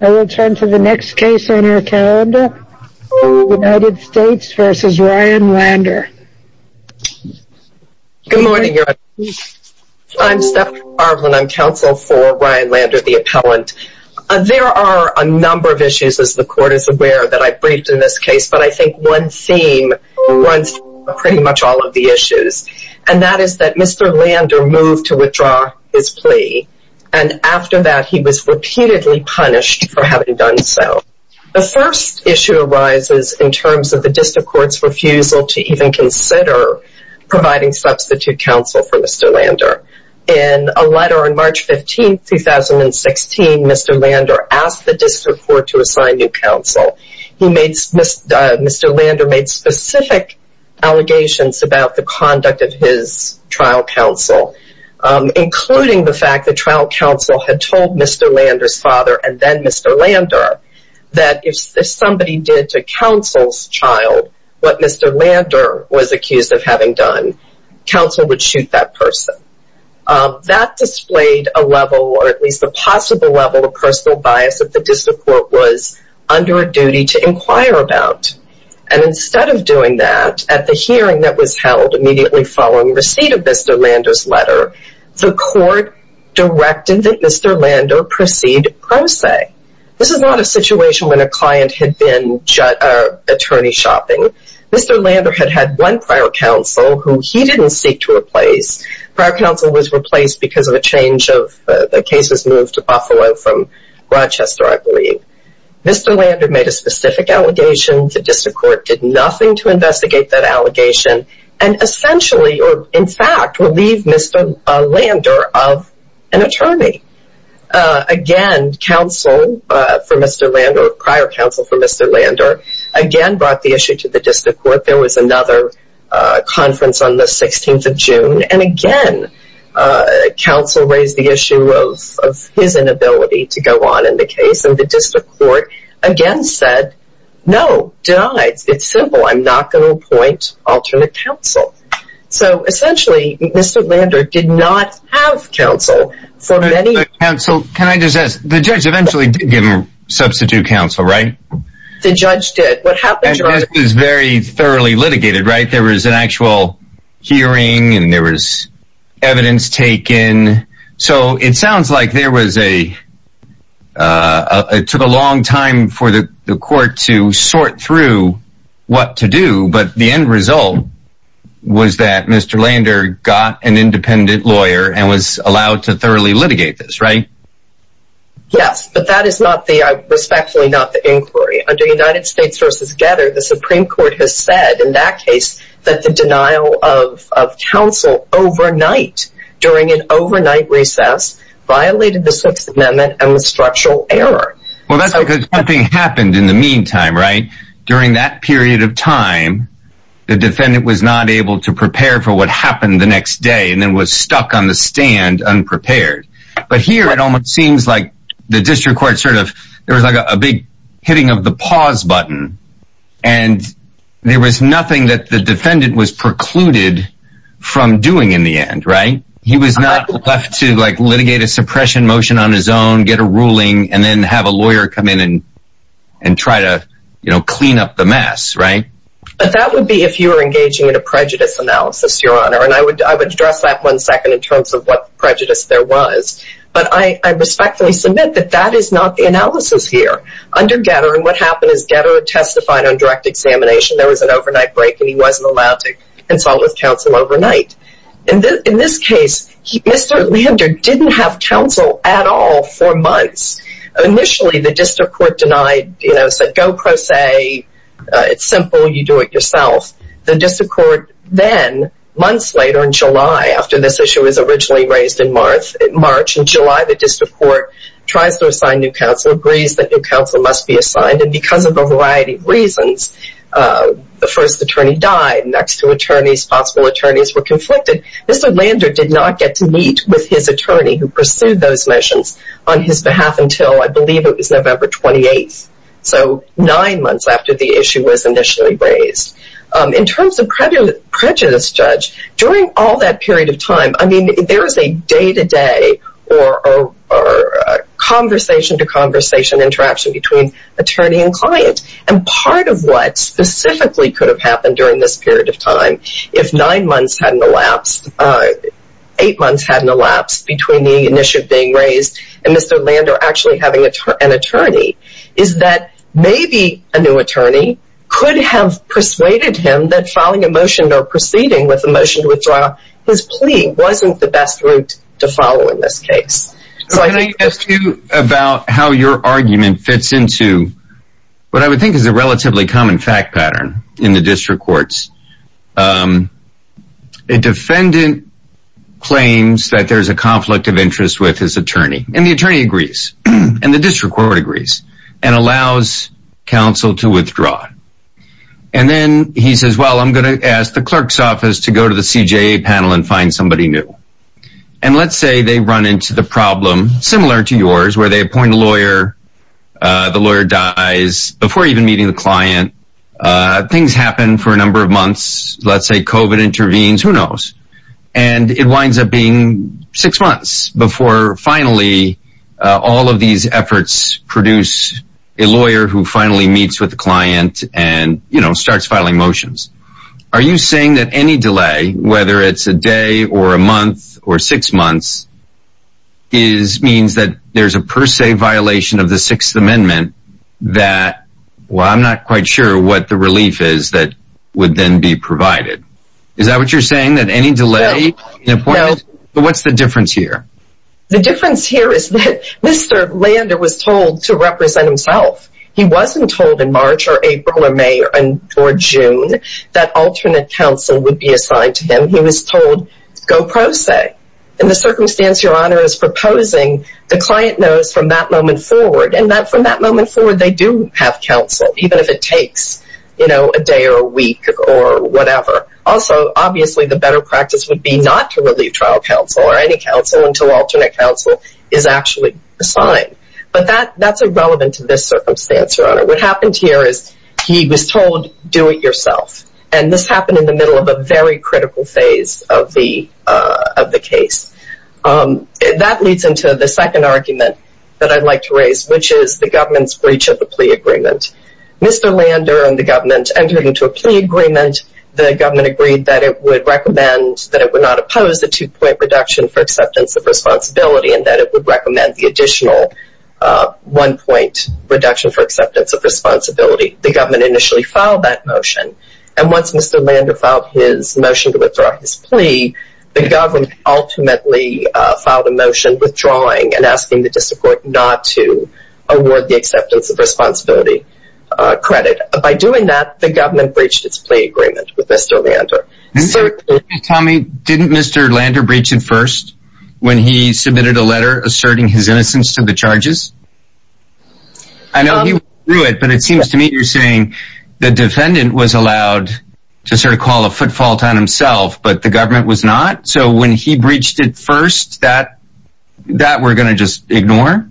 I will turn to the next case on our calendar, United States v. Ryan Lander Good morning Your Honor, I'm Stephanie Garland, I'm counsel for Ryan Lander, the appellant. There are a number of issues as the court is aware that I briefed in this case, but I think one theme runs through pretty much all of the issues, and that is that Mr. Lander moved to withdraw his plea, and after that he was repeatedly punished for having done so. The first issue arises in terms of the district court's refusal to even consider providing substitute counsel for Mr. Lander. In a letter on March 15, 2016, Mr. Lander asked the district court to assign new counsel. Mr. Lander made specific allegations about the conduct of his trial counsel, including the fact that trial counsel had told Mr. Lander's father and then Mr. Lander that if somebody did to counsel's child what Mr. Lander was accused of having done, counsel would shoot that person. That displayed a level, or at least a possible level of personal bias that the district court was under a duty to inquire about, and instead of doing that, at the hearing that was held immediately following receipt of Mr. Lander's letter, the court directed that Mr. Lander proceed pro se. This is not a situation when a client had been attorney shopping. Mr. Lander had had one prior counsel who he didn't seek to replace. Prior counsel was replaced because of a change of, the case was moved to Buffalo from Rochester, I believe. Mr. Lander made a specific allegation. The district court did nothing to investigate that allegation and essentially, or in fact, relieved Mr. Lander of an attorney. Again, counsel for Mr. Lander, or prior counsel for Mr. Lander again brought the issue to the district court. There was another conference on the 16th of June, and again, counsel raised the issue of his inability to go on in the case, and the district court again said, no, denied. It's simple, I'm not going to appoint alternate counsel. So essentially, Mr. Lander did not have counsel for many- But counsel, can I just ask, the judge eventually did give him substitute counsel, right? The judge did. What happened- And this was very thoroughly litigated, right? There was an actual hearing, and there was It took a long time for the court to sort through what to do, but the end result was that Mr. Lander got an independent lawyer and was allowed to thoroughly litigate this, right? Yes, but that is not the, respectfully not the inquiry. Under United States v. Getter, the Supreme Court has said in that case that the denial of counsel overnight, during an Well, that's because something happened in the meantime, right? During that period of time, the defendant was not able to prepare for what happened the next day, and then was stuck on the stand unprepared. But here, it almost seems like the district court sort of, there was like a big hitting of the pause button, and there was nothing that the defendant was precluded from doing in the end, right? He was not left to like litigate a suppression motion on his own, get a ruling, and then have a lawyer come in and try to clean up the mess, right? But that would be if you were engaging in a prejudice analysis, Your Honor, and I would address that one second in terms of what prejudice there was. But I respectfully submit that that is not the analysis here. Under Getter, and what happened is Getter testified on direct examination, there was an overnight break, and he wasn't allowed to consult with counsel at all for months. Initially, the district court denied, you know, said, go pro se. It's simple, you do it yourself. The district court then, months later in July, after this issue was originally raised in March, in July, the district court tries to assign new counsel, agrees that new counsel must be assigned, and because of a variety of reasons, the first attorney died, next two attorneys, possible attorneys were conflicted. Mr. Lander did not get to meet with his attorney who pursued those motions on his behalf until I believe it was November 28th, so nine months after the issue was initially raised. In terms of prejudice, Judge, during all that period of time, I mean, there is a day-to-day or conversation-to-conversation interaction between attorney and client, and part of what specifically could have happened during this period of time if nine months hadn't elapsed, eight months hadn't elapsed between the initiative being raised and Mr. Lander actually having an attorney, is that maybe a new attorney could have persuaded him that filing a motion or proceeding with a motion to withdraw his plea wasn't the best route to follow in this case. Can I ask you about how your argument fits into what I would think is a relatively common fact pattern in the district courts. A defendant claims that there's a conflict of interest with his attorney, and the attorney agrees, and the district court agrees, and allows counsel to withdraw. And then he says, well, I'm going to ask the clerk's office to go to the CJA panel and find somebody new. And let's say they run into the problem similar to yours where they appoint a lawyer, the lawyer dies before even meeting the client. Things happen for a number of months. Let's say COVID intervenes, who knows? And it winds up being six months before finally all of these efforts produce a lawyer who finally meets with the client and starts filing motions. Are you saying that any delay, whether it's a day, or a month, or six months, means that there's a per se violation of the Sixth Amendment that, well, I'm not quite sure what the relief is that would then be provided. Is that what you're saying? That any delay in appointment? What's the difference here? The difference here is that Mr. Lander was told to represent himself. He wasn't told in March, or April, or May, or June that alternate counsel would be assigned to him. He was told go pro se. And the circumstance, Your Honor, is proposing the client knows from that moment forward, and that from that moment forward, they do have counsel, even if it takes a day or a week or whatever. Also, obviously, the better practice would be not to relieve trial counsel or any counsel until alternate counsel is actually assigned. But that's irrelevant to this circumstance, Your Honor. What happened here is he was told, do it yourself. And this was the beginning of the case. That leads into the second argument that I'd like to raise, which is the government's breach of the plea agreement. Mr. Lander and the government entered into a plea agreement. The government agreed that it would recommend that it would not oppose the two-point reduction for acceptance of responsibility, and that it would recommend the additional one-point reduction for acceptance of responsibility. The government initially filed that motion. And once Mr. Lander filed his motion to withdraw his plea, the government ultimately filed a motion withdrawing and asking the district court not to award the acceptance of responsibility credit. By doing that, the government breached its plea agreement with Mr. Lander. Tell me, didn't Mr. Lander breach it first, when he submitted a letter asserting his innocence to the charges? I know he withdrew it, but it seems to me you're saying the defendant was allowed to sort of call a footfall to himself, but the government was not? So when he breached it first, that we're going to just ignore?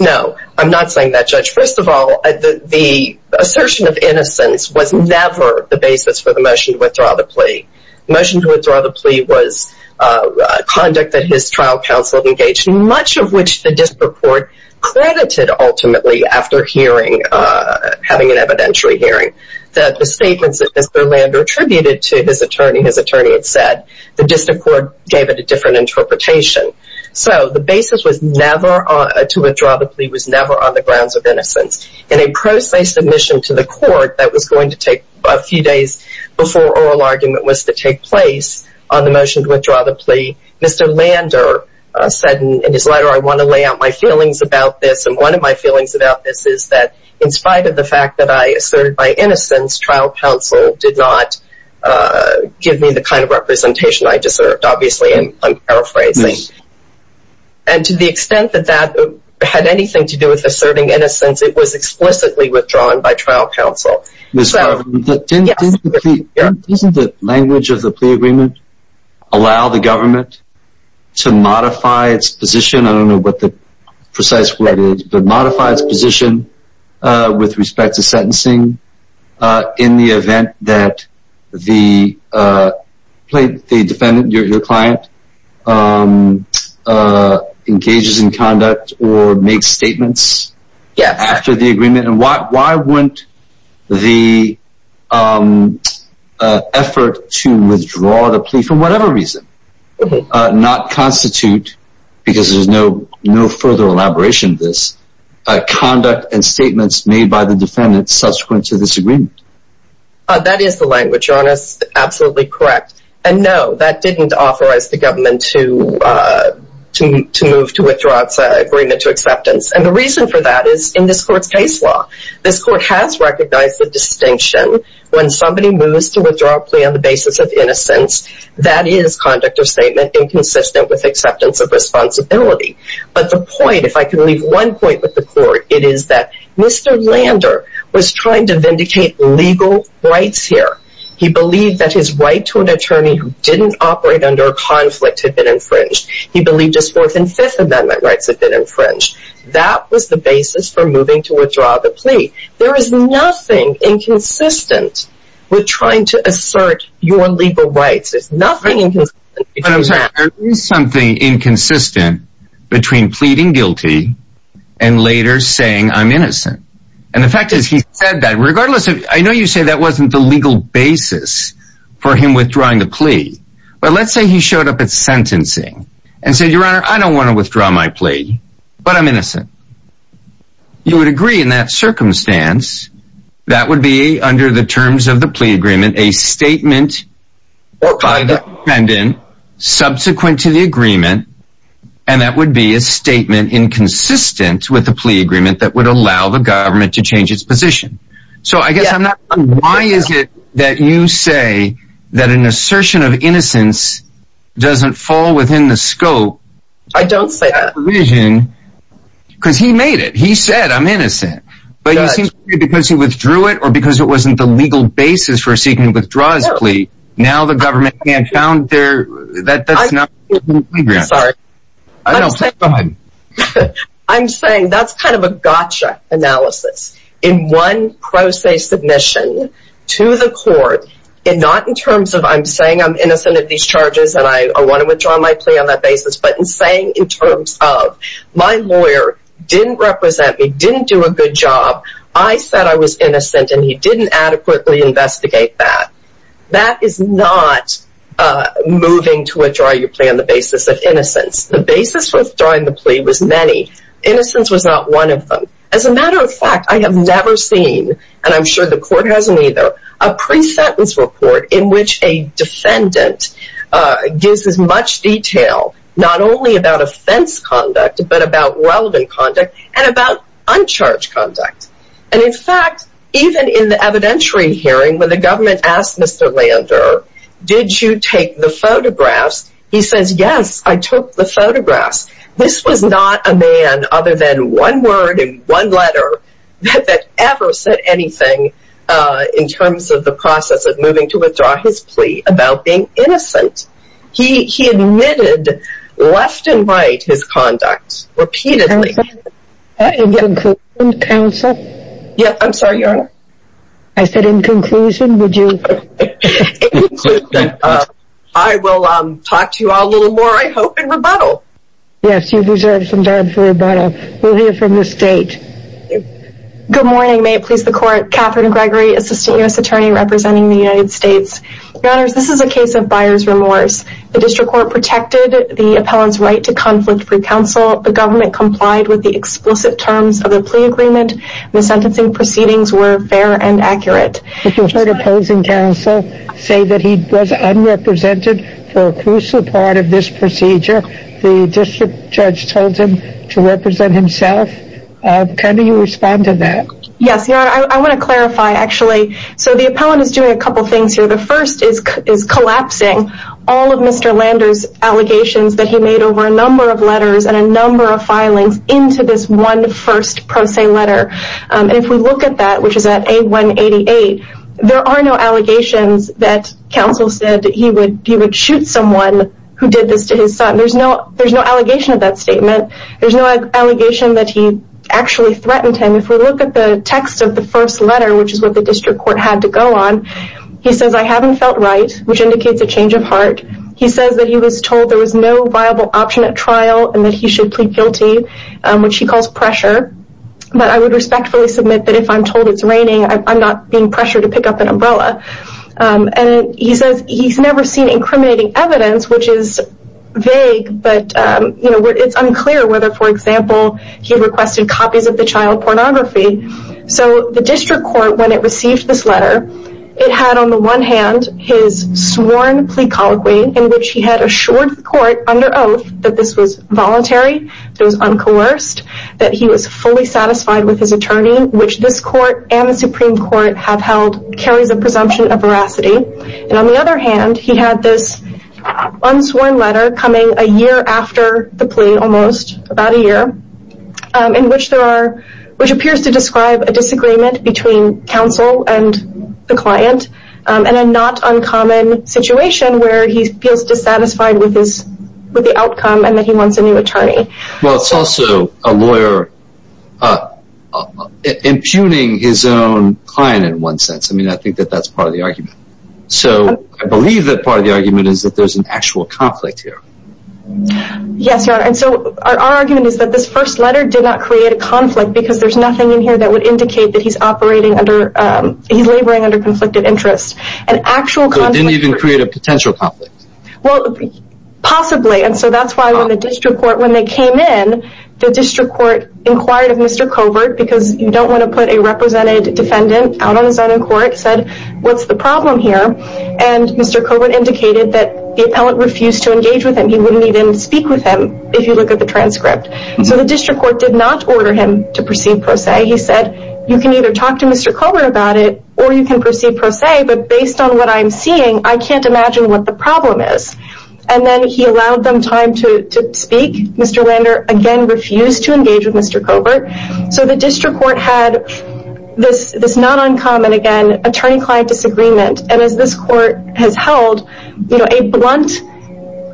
No, I'm not saying that, Judge. First of all, the assertion of innocence was never the basis for the motion to withdraw the plea. The motion to withdraw the plea was conduct that his district court credited ultimately after hearing, having an evidentiary hearing, that the statements that Mr. Lander attributed to his attorney, his attorney had said, the district court gave it a different interpretation. So the basis to withdraw the plea was never on the grounds of innocence. In a pro se submission to the court that was going to take a few days before oral argument was to take place on the motion to withdraw the plea, Mr. Lander said in his letter, I want to lay out my feelings about this. And one of my feelings about this is that in spite of the fact that I asserted my innocence, trial counsel did not give me the kind of representation I deserved, obviously, and I'm paraphrasing. And to the extent that that had anything to do with asserting innocence, it was explicitly withdrawn by trial counsel. Isn't the language of the plea agreement allow the government to modify its position? I don't know what the precise word is, but modify its position with respect to sentencing in the event that the defendant, your client, engages in conduct or make statements after the agreement and why why wouldn't the effort to withdraw the plea for whatever reason, not constitute, because there's no no further elaboration, this conduct and statements made by the defendant subsequent to this agreement. That is the language on us. Absolutely correct. And no, that didn't authorize the government to to move to withdraw its agreement to acceptance. And the reason for that is in this court's case law. This court has recognized the distinction when somebody moves to withdraw a plea on the basis of innocence, that is conduct or statement inconsistent with acceptance of responsibility. But the point, if I can leave one point with the court, it is that Mr. Lander was trying to vindicate legal rights here. He believed that his right to an attorney who didn't operate under a conflict had been infringed. He believed his Fourth and Fifth withdraw the plea. There is nothing inconsistent with trying to assert your legal rights. There's nothing inconsistent. There is something inconsistent between pleading guilty and later saying I'm innocent. And the fact is, he said that regardless of I know you say that wasn't the legal basis for him withdrawing the plea. But let's say he showed up at sentencing and said, Your would agree in that circumstance, that would be under the terms of the plea agreement, a statement by the defendant subsequent to the agreement. And that would be a statement inconsistent with the plea agreement that would allow the government to change its position. So I guess I'm not. Why is it that you say that an assertion of innocence doesn't fall innocent, but because he withdrew it or because it wasn't the legal basis for seeking to withdraw his plea. Now the government can't found there that that's not sorry. I'm saying that's kind of a gotcha analysis in one process submission to the court in not in terms of I'm saying I'm innocent of these charges and I want to withdraw my plea on that basis. But in saying in terms of my lawyer didn't represent me, didn't do a good job. I said I was innocent and he didn't adequately investigate that. That is not moving to withdraw your plea on the basis of innocence. The basis for withdrawing the plea was many. Innocence was not one of them. As a matter of fact, I have never seen and I'm sure the not only about offense conduct, but about relevant conduct and about uncharged conduct. And in fact, even in the evidentiary hearing, when the government asked Mr. Lander, did you take the photographs? He says, yes, I took the photographs. This was not a man other than one word in one letter that ever said anything in terms of the process of moving to withdraw his plea about being innocent. He admitted left and right his conduct repeatedly. In conclusion, counsel. Yeah, I'm sorry, your honor. I said in conclusion, would you? In conclusion, I will talk to you all a little more, I hope, in rebuttal. Yes, you deserve some time for rebuttal. We'll hear from the state. Good morning. May it please the court. Catherine Gregory, Assistant U.S. Attorney representing the United States. Your honors, this is a case of buyer's remorse. The district court protected the appellant's right to conflict-free counsel. The government complied with the explicit terms of the plea agreement. The sentencing proceedings were fair and accurate. You heard opposing counsel say that he was unrepresented for a crucial part of this procedure. The district judge told him to represent himself. How do you respond to that? Yes, your honor. I want to clarify, actually. So the appellant is doing a couple things here. The first is collapsing all of Mr. Lander's allegations that he made over a number of letters and a number of filings into this one first pro se letter. And if we look at that, which is at A188, there are no allegations that counsel said that he would shoot someone who did this to his son. There's no allegation of that statement. There's no allegation that he actually threatened him. If we look at the text of the first letter, which is what the district court had to go on, he says, I haven't felt right, which indicates a change of heart. He says that he was told there was no viable option at trial and that he should plead guilty, which he calls pressure. But I would respectfully submit that if I'm told it's raining, I'm not being pressured to pick up an umbrella. And he says he's never seen incriminating evidence, which is vague, but it's unclear whether, for example, he requested copies of the child pornography. So the district court, when it received this letter, it had on the one hand his sworn plea colloquy in which he had assured the court under oath that this was voluntary, it was uncoerced, that he was fully satisfied with his attorney, which this court and the Supreme Court have held carries a presumption of veracity. And on the other hand, he had this unsworn letter coming a year after the plea almost, about a year, in which there are, which appears to describe a disagreement between counsel and the client, and a not uncommon situation where he feels dissatisfied with the outcome and that he wants a new attorney. Well, it's also a lawyer impugning his own client in one sense. I mean, I think that that's part of the argument. So I believe that part of the argument is that there's an actual conflict here. Yes, Your Honor. And so our argument is that this first letter did not create a conflict because there's nothing in here that would indicate that he's operating under, he's laboring under conflicted interest. An actual conflict. So it didn't even create a potential conflict? Well, possibly. And so that's why when the district court, when they came in, the district court inquired of Mr. Covert, because you don't want to put a represented defendant out on his own in court, said, what's the problem here? And Mr. Covert indicated that the appellant refused to engage with him. He wouldn't even speak with him, if you look at the transcript. So the district court did not order him to proceed pro se. He said, you can either talk to Mr. Covert about it, or you can proceed pro se, but based on what I'm seeing, I can't imagine what the problem is. And then he allowed them time to speak. Mr. Lander, again, refused to engage with Mr. Covert. So the district court had this not uncommon, again, attorney client disagreement. And as this court has held, a blunt,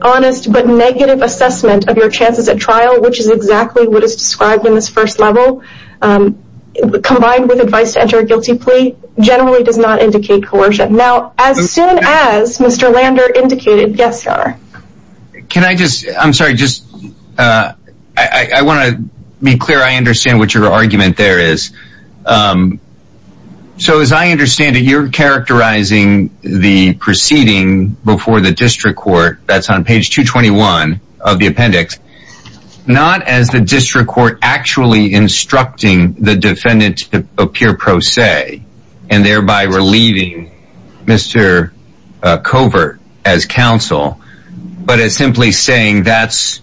honest, but negative assessment of your chances at trial, which is exactly what is described in this first level, combined with advice to enter a guilty plea, generally does not indicate coercion. Now, as soon as understand what your argument there is. So as I understand it, you're characterizing the proceeding before the district court, that's on page 221 of the appendix, not as the district court actually instructing the defendant to appear pro se, and thereby relieving Mr. Covert as counsel, but as simply saying that's,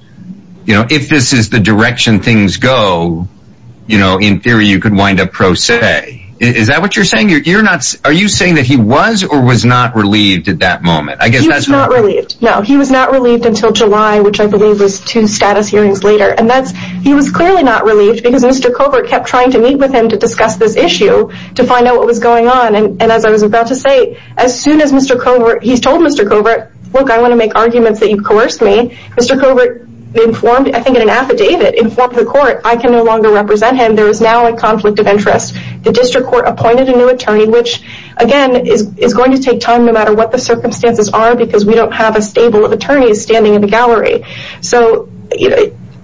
you know, if this is the direction things go, you know, in theory, you could wind up pro se. Is that what you're saying? You're not? Are you saying that he was or was not relieved at that moment? I guess that's not really it. No, he was not relieved until July, which I believe was two status hearings later. And that's he was clearly not relieved because Mr. Covert kept trying to meet with him to discuss this issue, to find out what was going on. And as I was about to say, as soon as Mr. Covert, he's told Mr. Covert, look, I want to make arguments that you've coerced me. Mr. Covert informed, I think in an affidavit, informed the court, I can no longer represent him. There is now a conflict of interest. The district court appointed a new attorney, which again is going to take time no matter what the circumstances are, because we don't have a stable of attorneys standing in the gallery. So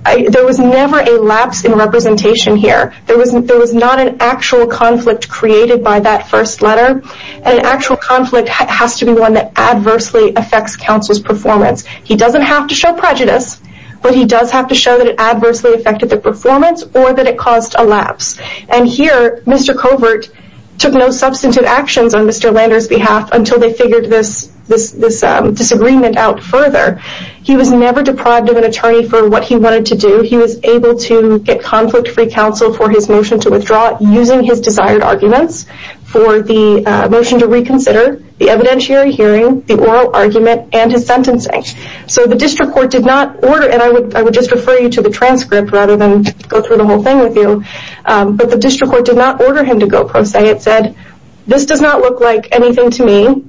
there was never a lapse in representation here. There was not an actual conflict created by that first letter. An actual conflict has to be one that adversely affects counsel's performance. He doesn't have to show prejudice, but he does have to show that it adversely affected the performance or that it caused a lapse. And here, Mr. Covert took no substantive actions on Mr. Lander's behalf until they figured this disagreement out further. He was never able to get conflict-free counsel for his motion to withdraw using his desired arguments for the motion to reconsider, the evidentiary hearing, the oral argument, and his sentencing. So the district court did not order, and I would just refer you to the transcript rather than go through the whole thing with you, but the district court did not order him to go pro se. It said, this does not look like anything to me.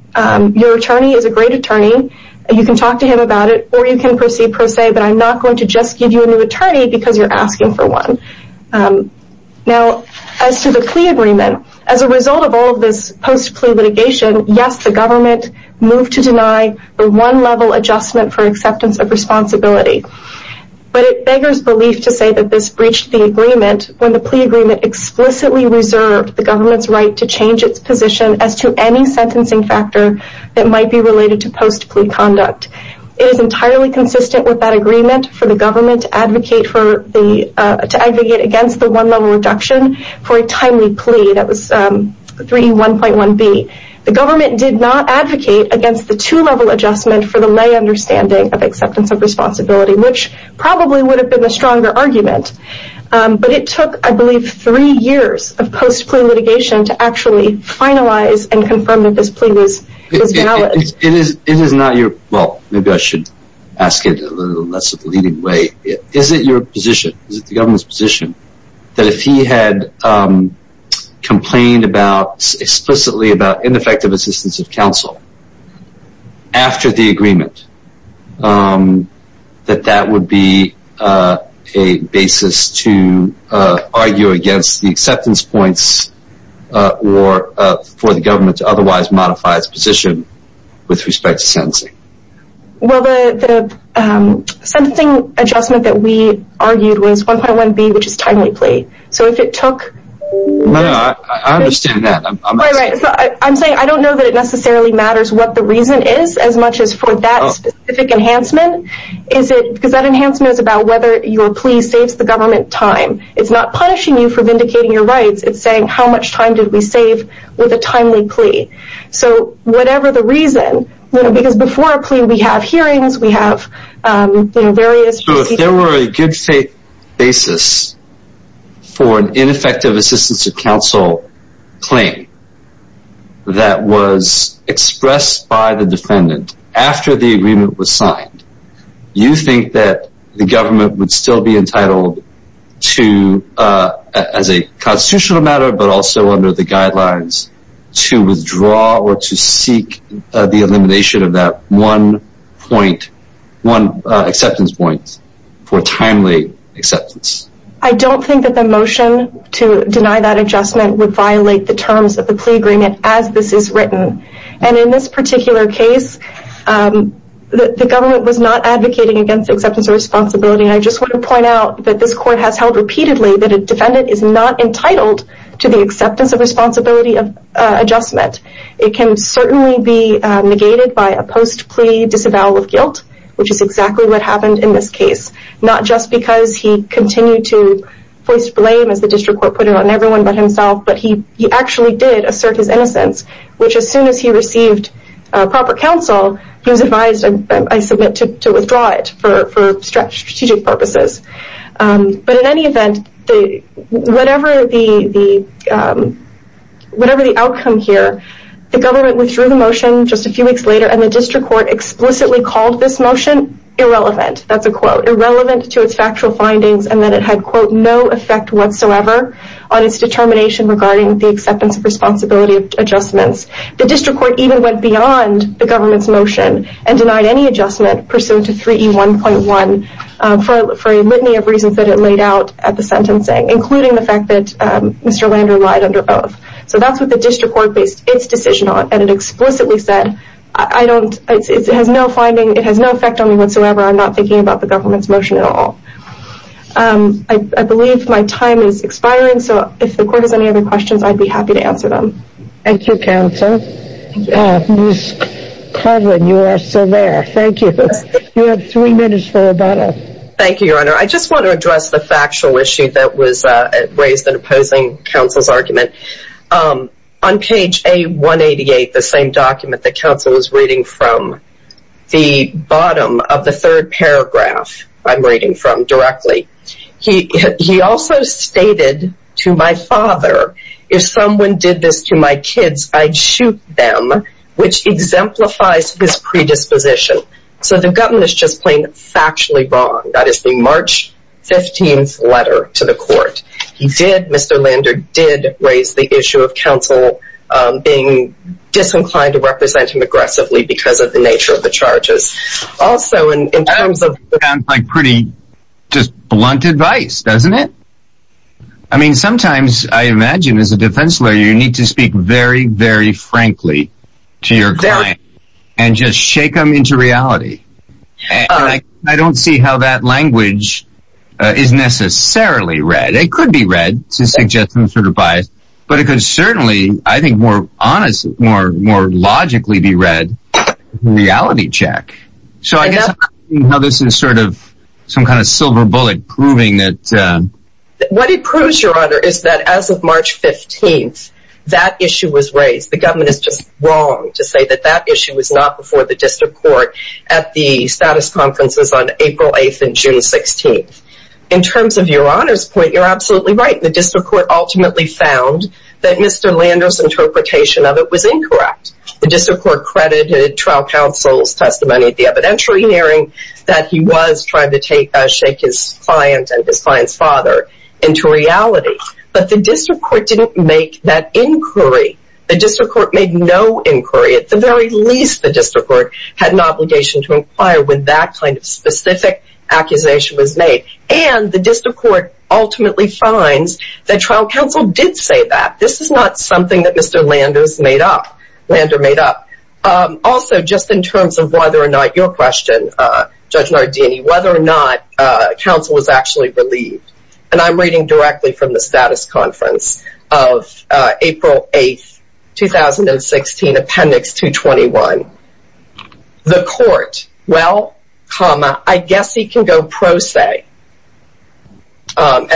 Your attorney is a great attorney. You can talk to him about it or you can proceed pro se, but I'm not going to just give you a new attorney because you're asking for one. Now as to the plea agreement, as a result of all of this post-plea litigation, yes, the government moved to deny the one-level adjustment for acceptance of responsibility. But it beggars belief to say that this breached the agreement when the plea agreement explicitly reserved the government's right to change its position as to any sentencing factor that might be related to post-plea conduct. It is entirely consistent with that agreement for the government to advocate against the one-level reduction for a timely plea. That was 3E1.1B. The government did not advocate against the two-level adjustment for the lay understanding of acceptance of responsibility, which probably would have been the stronger argument. But it took, I believe, three years of post-plea litigation to actually finalize and confirm that this plea was valid. It is not your, well, maybe I should ask it in a less leading way. Is it your position, is it the government's position, that if he had complained explicitly about ineffective assistance of counsel after the agreement, that that would be a basis to argue against the acceptance points or for the government to otherwise modify its position with respect to sentencing? Well, the sentencing adjustment that we argued was 1.1B, which is timely plea. So if it took No, no, I understand that. I'm saying I don't know that it necessarily matters what the reason is as much as for that specific enhancement. Is it because that enhancement is about whether your plea saves the government time? It's not punishing you for vindicating your rights. It's saying how much time did we save with a timely plea? So whatever the reason, because before a plea we have hearings, we have various procedures. So if there were a good faith basis for an ineffective assistance of counsel claim that was expressed by the defendant after the agreement was signed, you think that the government would still be entitled to, as a constitutional matter, but also under the guidelines, to withdraw or to seek the elimination of that one point, one acceptance point for timely acceptance? I don't think that the motion to deny that adjustment would violate the terms of the plea agreement as this is written. And in this particular case, the government was not of responsibility. And I just want to point out that this court has held repeatedly that a defendant is not entitled to the acceptance of responsibility of adjustment. It can certainly be negated by a post plea disavowal of guilt, which is exactly what happened in this case. Not just because he continued to voice blame as the district court put it on everyone but himself, but he actually did assert his innocence, which as soon as he received proper counsel, he was advised, I submit, to withdraw it for strategic purposes. But in any event, whatever the outcome here, the government withdrew the motion just a few weeks later and the district court explicitly called this motion irrelevant. That's a quote. Irrelevant to its factual findings and that it had, quote, no effect whatsoever on its determination regarding the acceptance of responsibility adjustments. The district court even went beyond the government's motion and denied any adjustment pursuant to 3E1.1 for a litany of reasons that it laid out at the sentencing, including the fact that Mr. Lander lied under oath. So that's what the district court based its decision on. And it explicitly said, I don't, it has no finding, it has no effect on me whatsoever. I'm not thinking about the government's motion at all. I believe my time is expiring, so if the court has any other questions, I'd be happy to answer them. Thank you, counsel. Ms. Coughlin, you are still there. Thank you. You have three minutes for rebuttal. Thank you, your honor. I just want to address the factual issue that was raised in opposing counsel's argument. On page A188, the same document that counsel was reading from, the bottom of the third paragraph I'm reading from directly, he also stated to my father, if someone did this to my kids, I'd shoot them, which exemplifies his predisposition. So the government is just plain factually wrong. That is the March 15th letter to the court. He did, Mr. Lander did raise the issue of counsel being disinclined to represent him aggressively because of the nature of the charges. Also in terms of- Sounds like pretty just blunt advice, doesn't it? I mean, sometimes I imagine as a defense lawyer, you need to speak very, very frankly to your client and just shake them into reality. I don't see how that language is necessarily read. It could be read to suggest some sort of bias, but it could certainly, I think more honestly, more logically be read in reality check. So I guess how this is sort of some kind of silver bullet proving that- What it proves, Your Honor, is that as of March 15th, that issue was raised. The government is just wrong to say that that issue was not before the district court at the status conferences on April 8th and June 16th. In terms of Your Honor's point, you're absolutely right. The district court ultimately found that Mr. Lander's interpretation of it was incorrect. The district court credited trial counsel's testimony at the shake his client and his client's father into reality. But the district court didn't make that inquiry. The district court made no inquiry. At the very least, the district court had an obligation to inquire when that kind of specific accusation was made. And the district court ultimately finds that trial counsel did say that. This is not something that Mr. Lander made up. Lander made up. Also, just in terms of whether or not your question, Judge Nardini, whether or not counsel was actually relieved. And I'm reading directly from the status conference of April 8th, 2016, appendix 221. The court, well, comma, I guess he can go pro se. And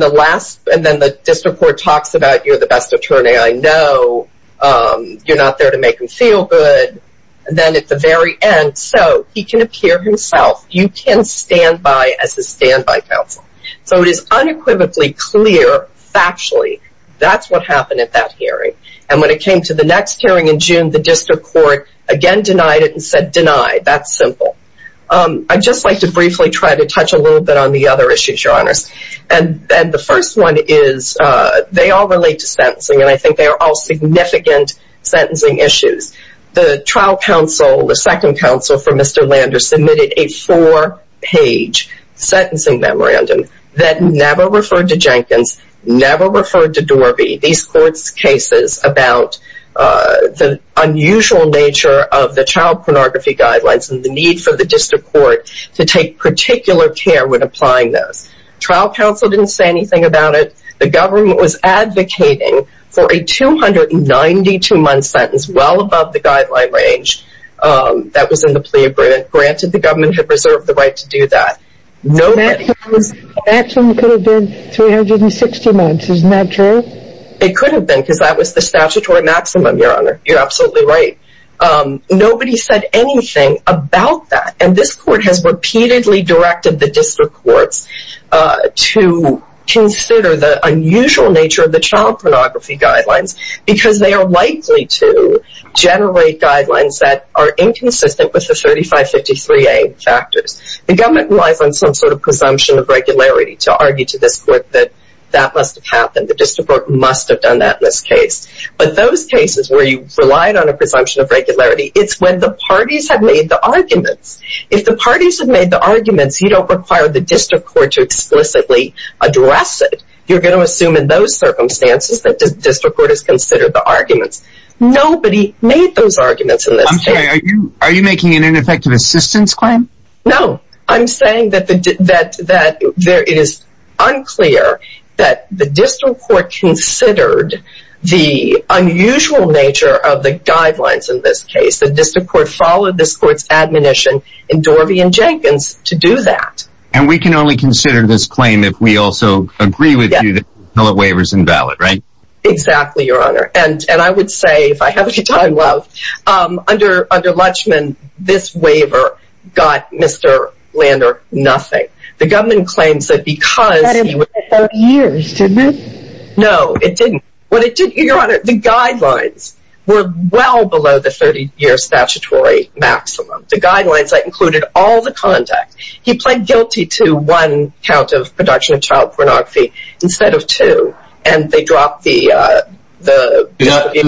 the last, and then the district court talks about you're the best attorney I know. You're not there to make him feel good. And then at the very end, so he can appear himself, you can stand by as a standby counsel. So it is unequivocally clear, factually, that's what happened at that hearing. And when it came to the next hearing in June, the district court again denied it and said, deny, that's simple. I'd just like to briefly try to touch a little bit on the other issues, Your Honors. And the first one is, they all relate to sentencing. And I think they are all significant sentencing issues. The trial counsel, the second counsel for Mr. Lander submitted a four page sentencing memorandum that never referred to Jenkins, never referred to Dorby. These court's cases about the unusual nature of the child pornography guidelines and the need for the district court to take particular care when applying this. Trial counsel didn't say anything about it. The government was advocating for a 292-month sentence well above the guideline range that was in the plea agreement. Granted, the government had reserved the right to do that. Maximum could have been 360 months. Isn't that true? It could have been because that was the statutory maximum, Your Honor. You're absolutely right. Nobody said anything about that. And this court has repeatedly directed the district courts to consider the unusual nature of the child pornography guidelines because they are likely to generate guidelines that are inconsistent with the 3553A factors. The government relies on some sort of presumption of regularity to argue to this court that that must have happened. The district court must have done that in this case. But those cases where you relied on a presumption of regularity, it's when the parties have made the arguments. If the parties have made the arguments, you don't require the district court to explicitly address it. You're going to assume in those circumstances that the district court has considered the arguments. Nobody made those arguments in this case. I'm sorry, are you making an ineffective assistance claim? No. I'm saying that it is unclear that the district court considered the unusual nature of the guidelines in this case. The district court followed this court's admonition in Dorvey and Jenkins to do that. And we can only consider this claim if we also agree with you that the waiver is invalid, right? Exactly, your honor. And I would say, if I have any time left, under Lutschman, this waiver got Mr. Lander nothing. The government claims that because... It took years, didn't it? No, it didn't. Your honor, the guidelines were well below the 30-year statutory maximum. The guidelines included all the conduct. He pled guilty to one count of production of child pornography instead of two. And they dropped the...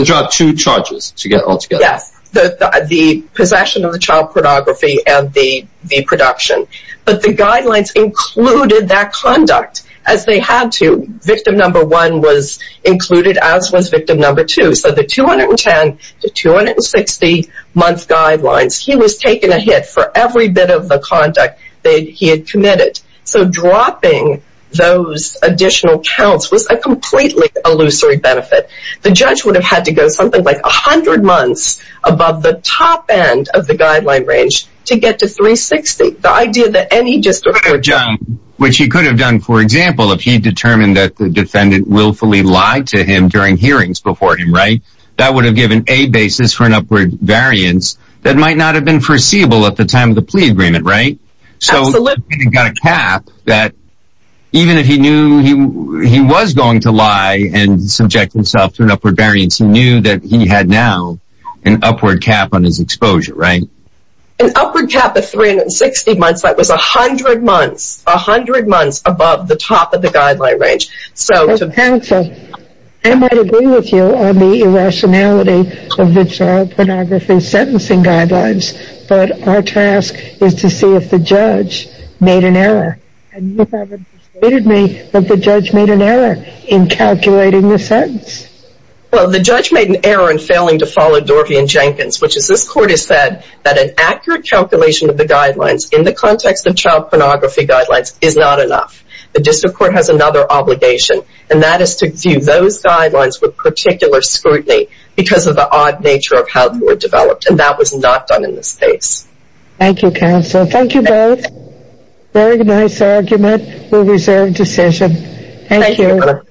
Dropped two charges altogether. Yes, the possession of the child pornography and the production. But the guidelines included that conduct as they had to. Victim number one was to 210-260 month guidelines. He was taking a hit for every bit of the conduct that he had committed. So dropping those additional counts was a completely illusory benefit. The judge would have had to go something like 100 months above the top end of the guideline range to get to 360. The idea that any district... Which he could have done, for example, if he determined that the defendant willfully lied to him during hearings before him, right? That would have given a basis for an upward variance that might not have been foreseeable at the time of the plea agreement, right? So he got a cap that even if he knew he was going to lie and subject himself to an upward variance, he knew that he had now an upward cap on his exposure, right? An upward cap of 360 months. That was 100 months, 100 months above the top of the guideline range. So counsel, I might agree with you on the irrationality of the child pornography sentencing guidelines, but our task is to see if the judge made an error. And you haven't persuaded me that the judge made an error in calculating the sentence. Well, the judge made an error in the guidelines in the context of child pornography guidelines is not enough. The district court has another obligation, and that is to view those guidelines with particular scrutiny because of the odd nature of how they were developed. And that was not done in this case. Thank you, counsel. Thank you both. Very nice argument. We reserve decision. Thank you.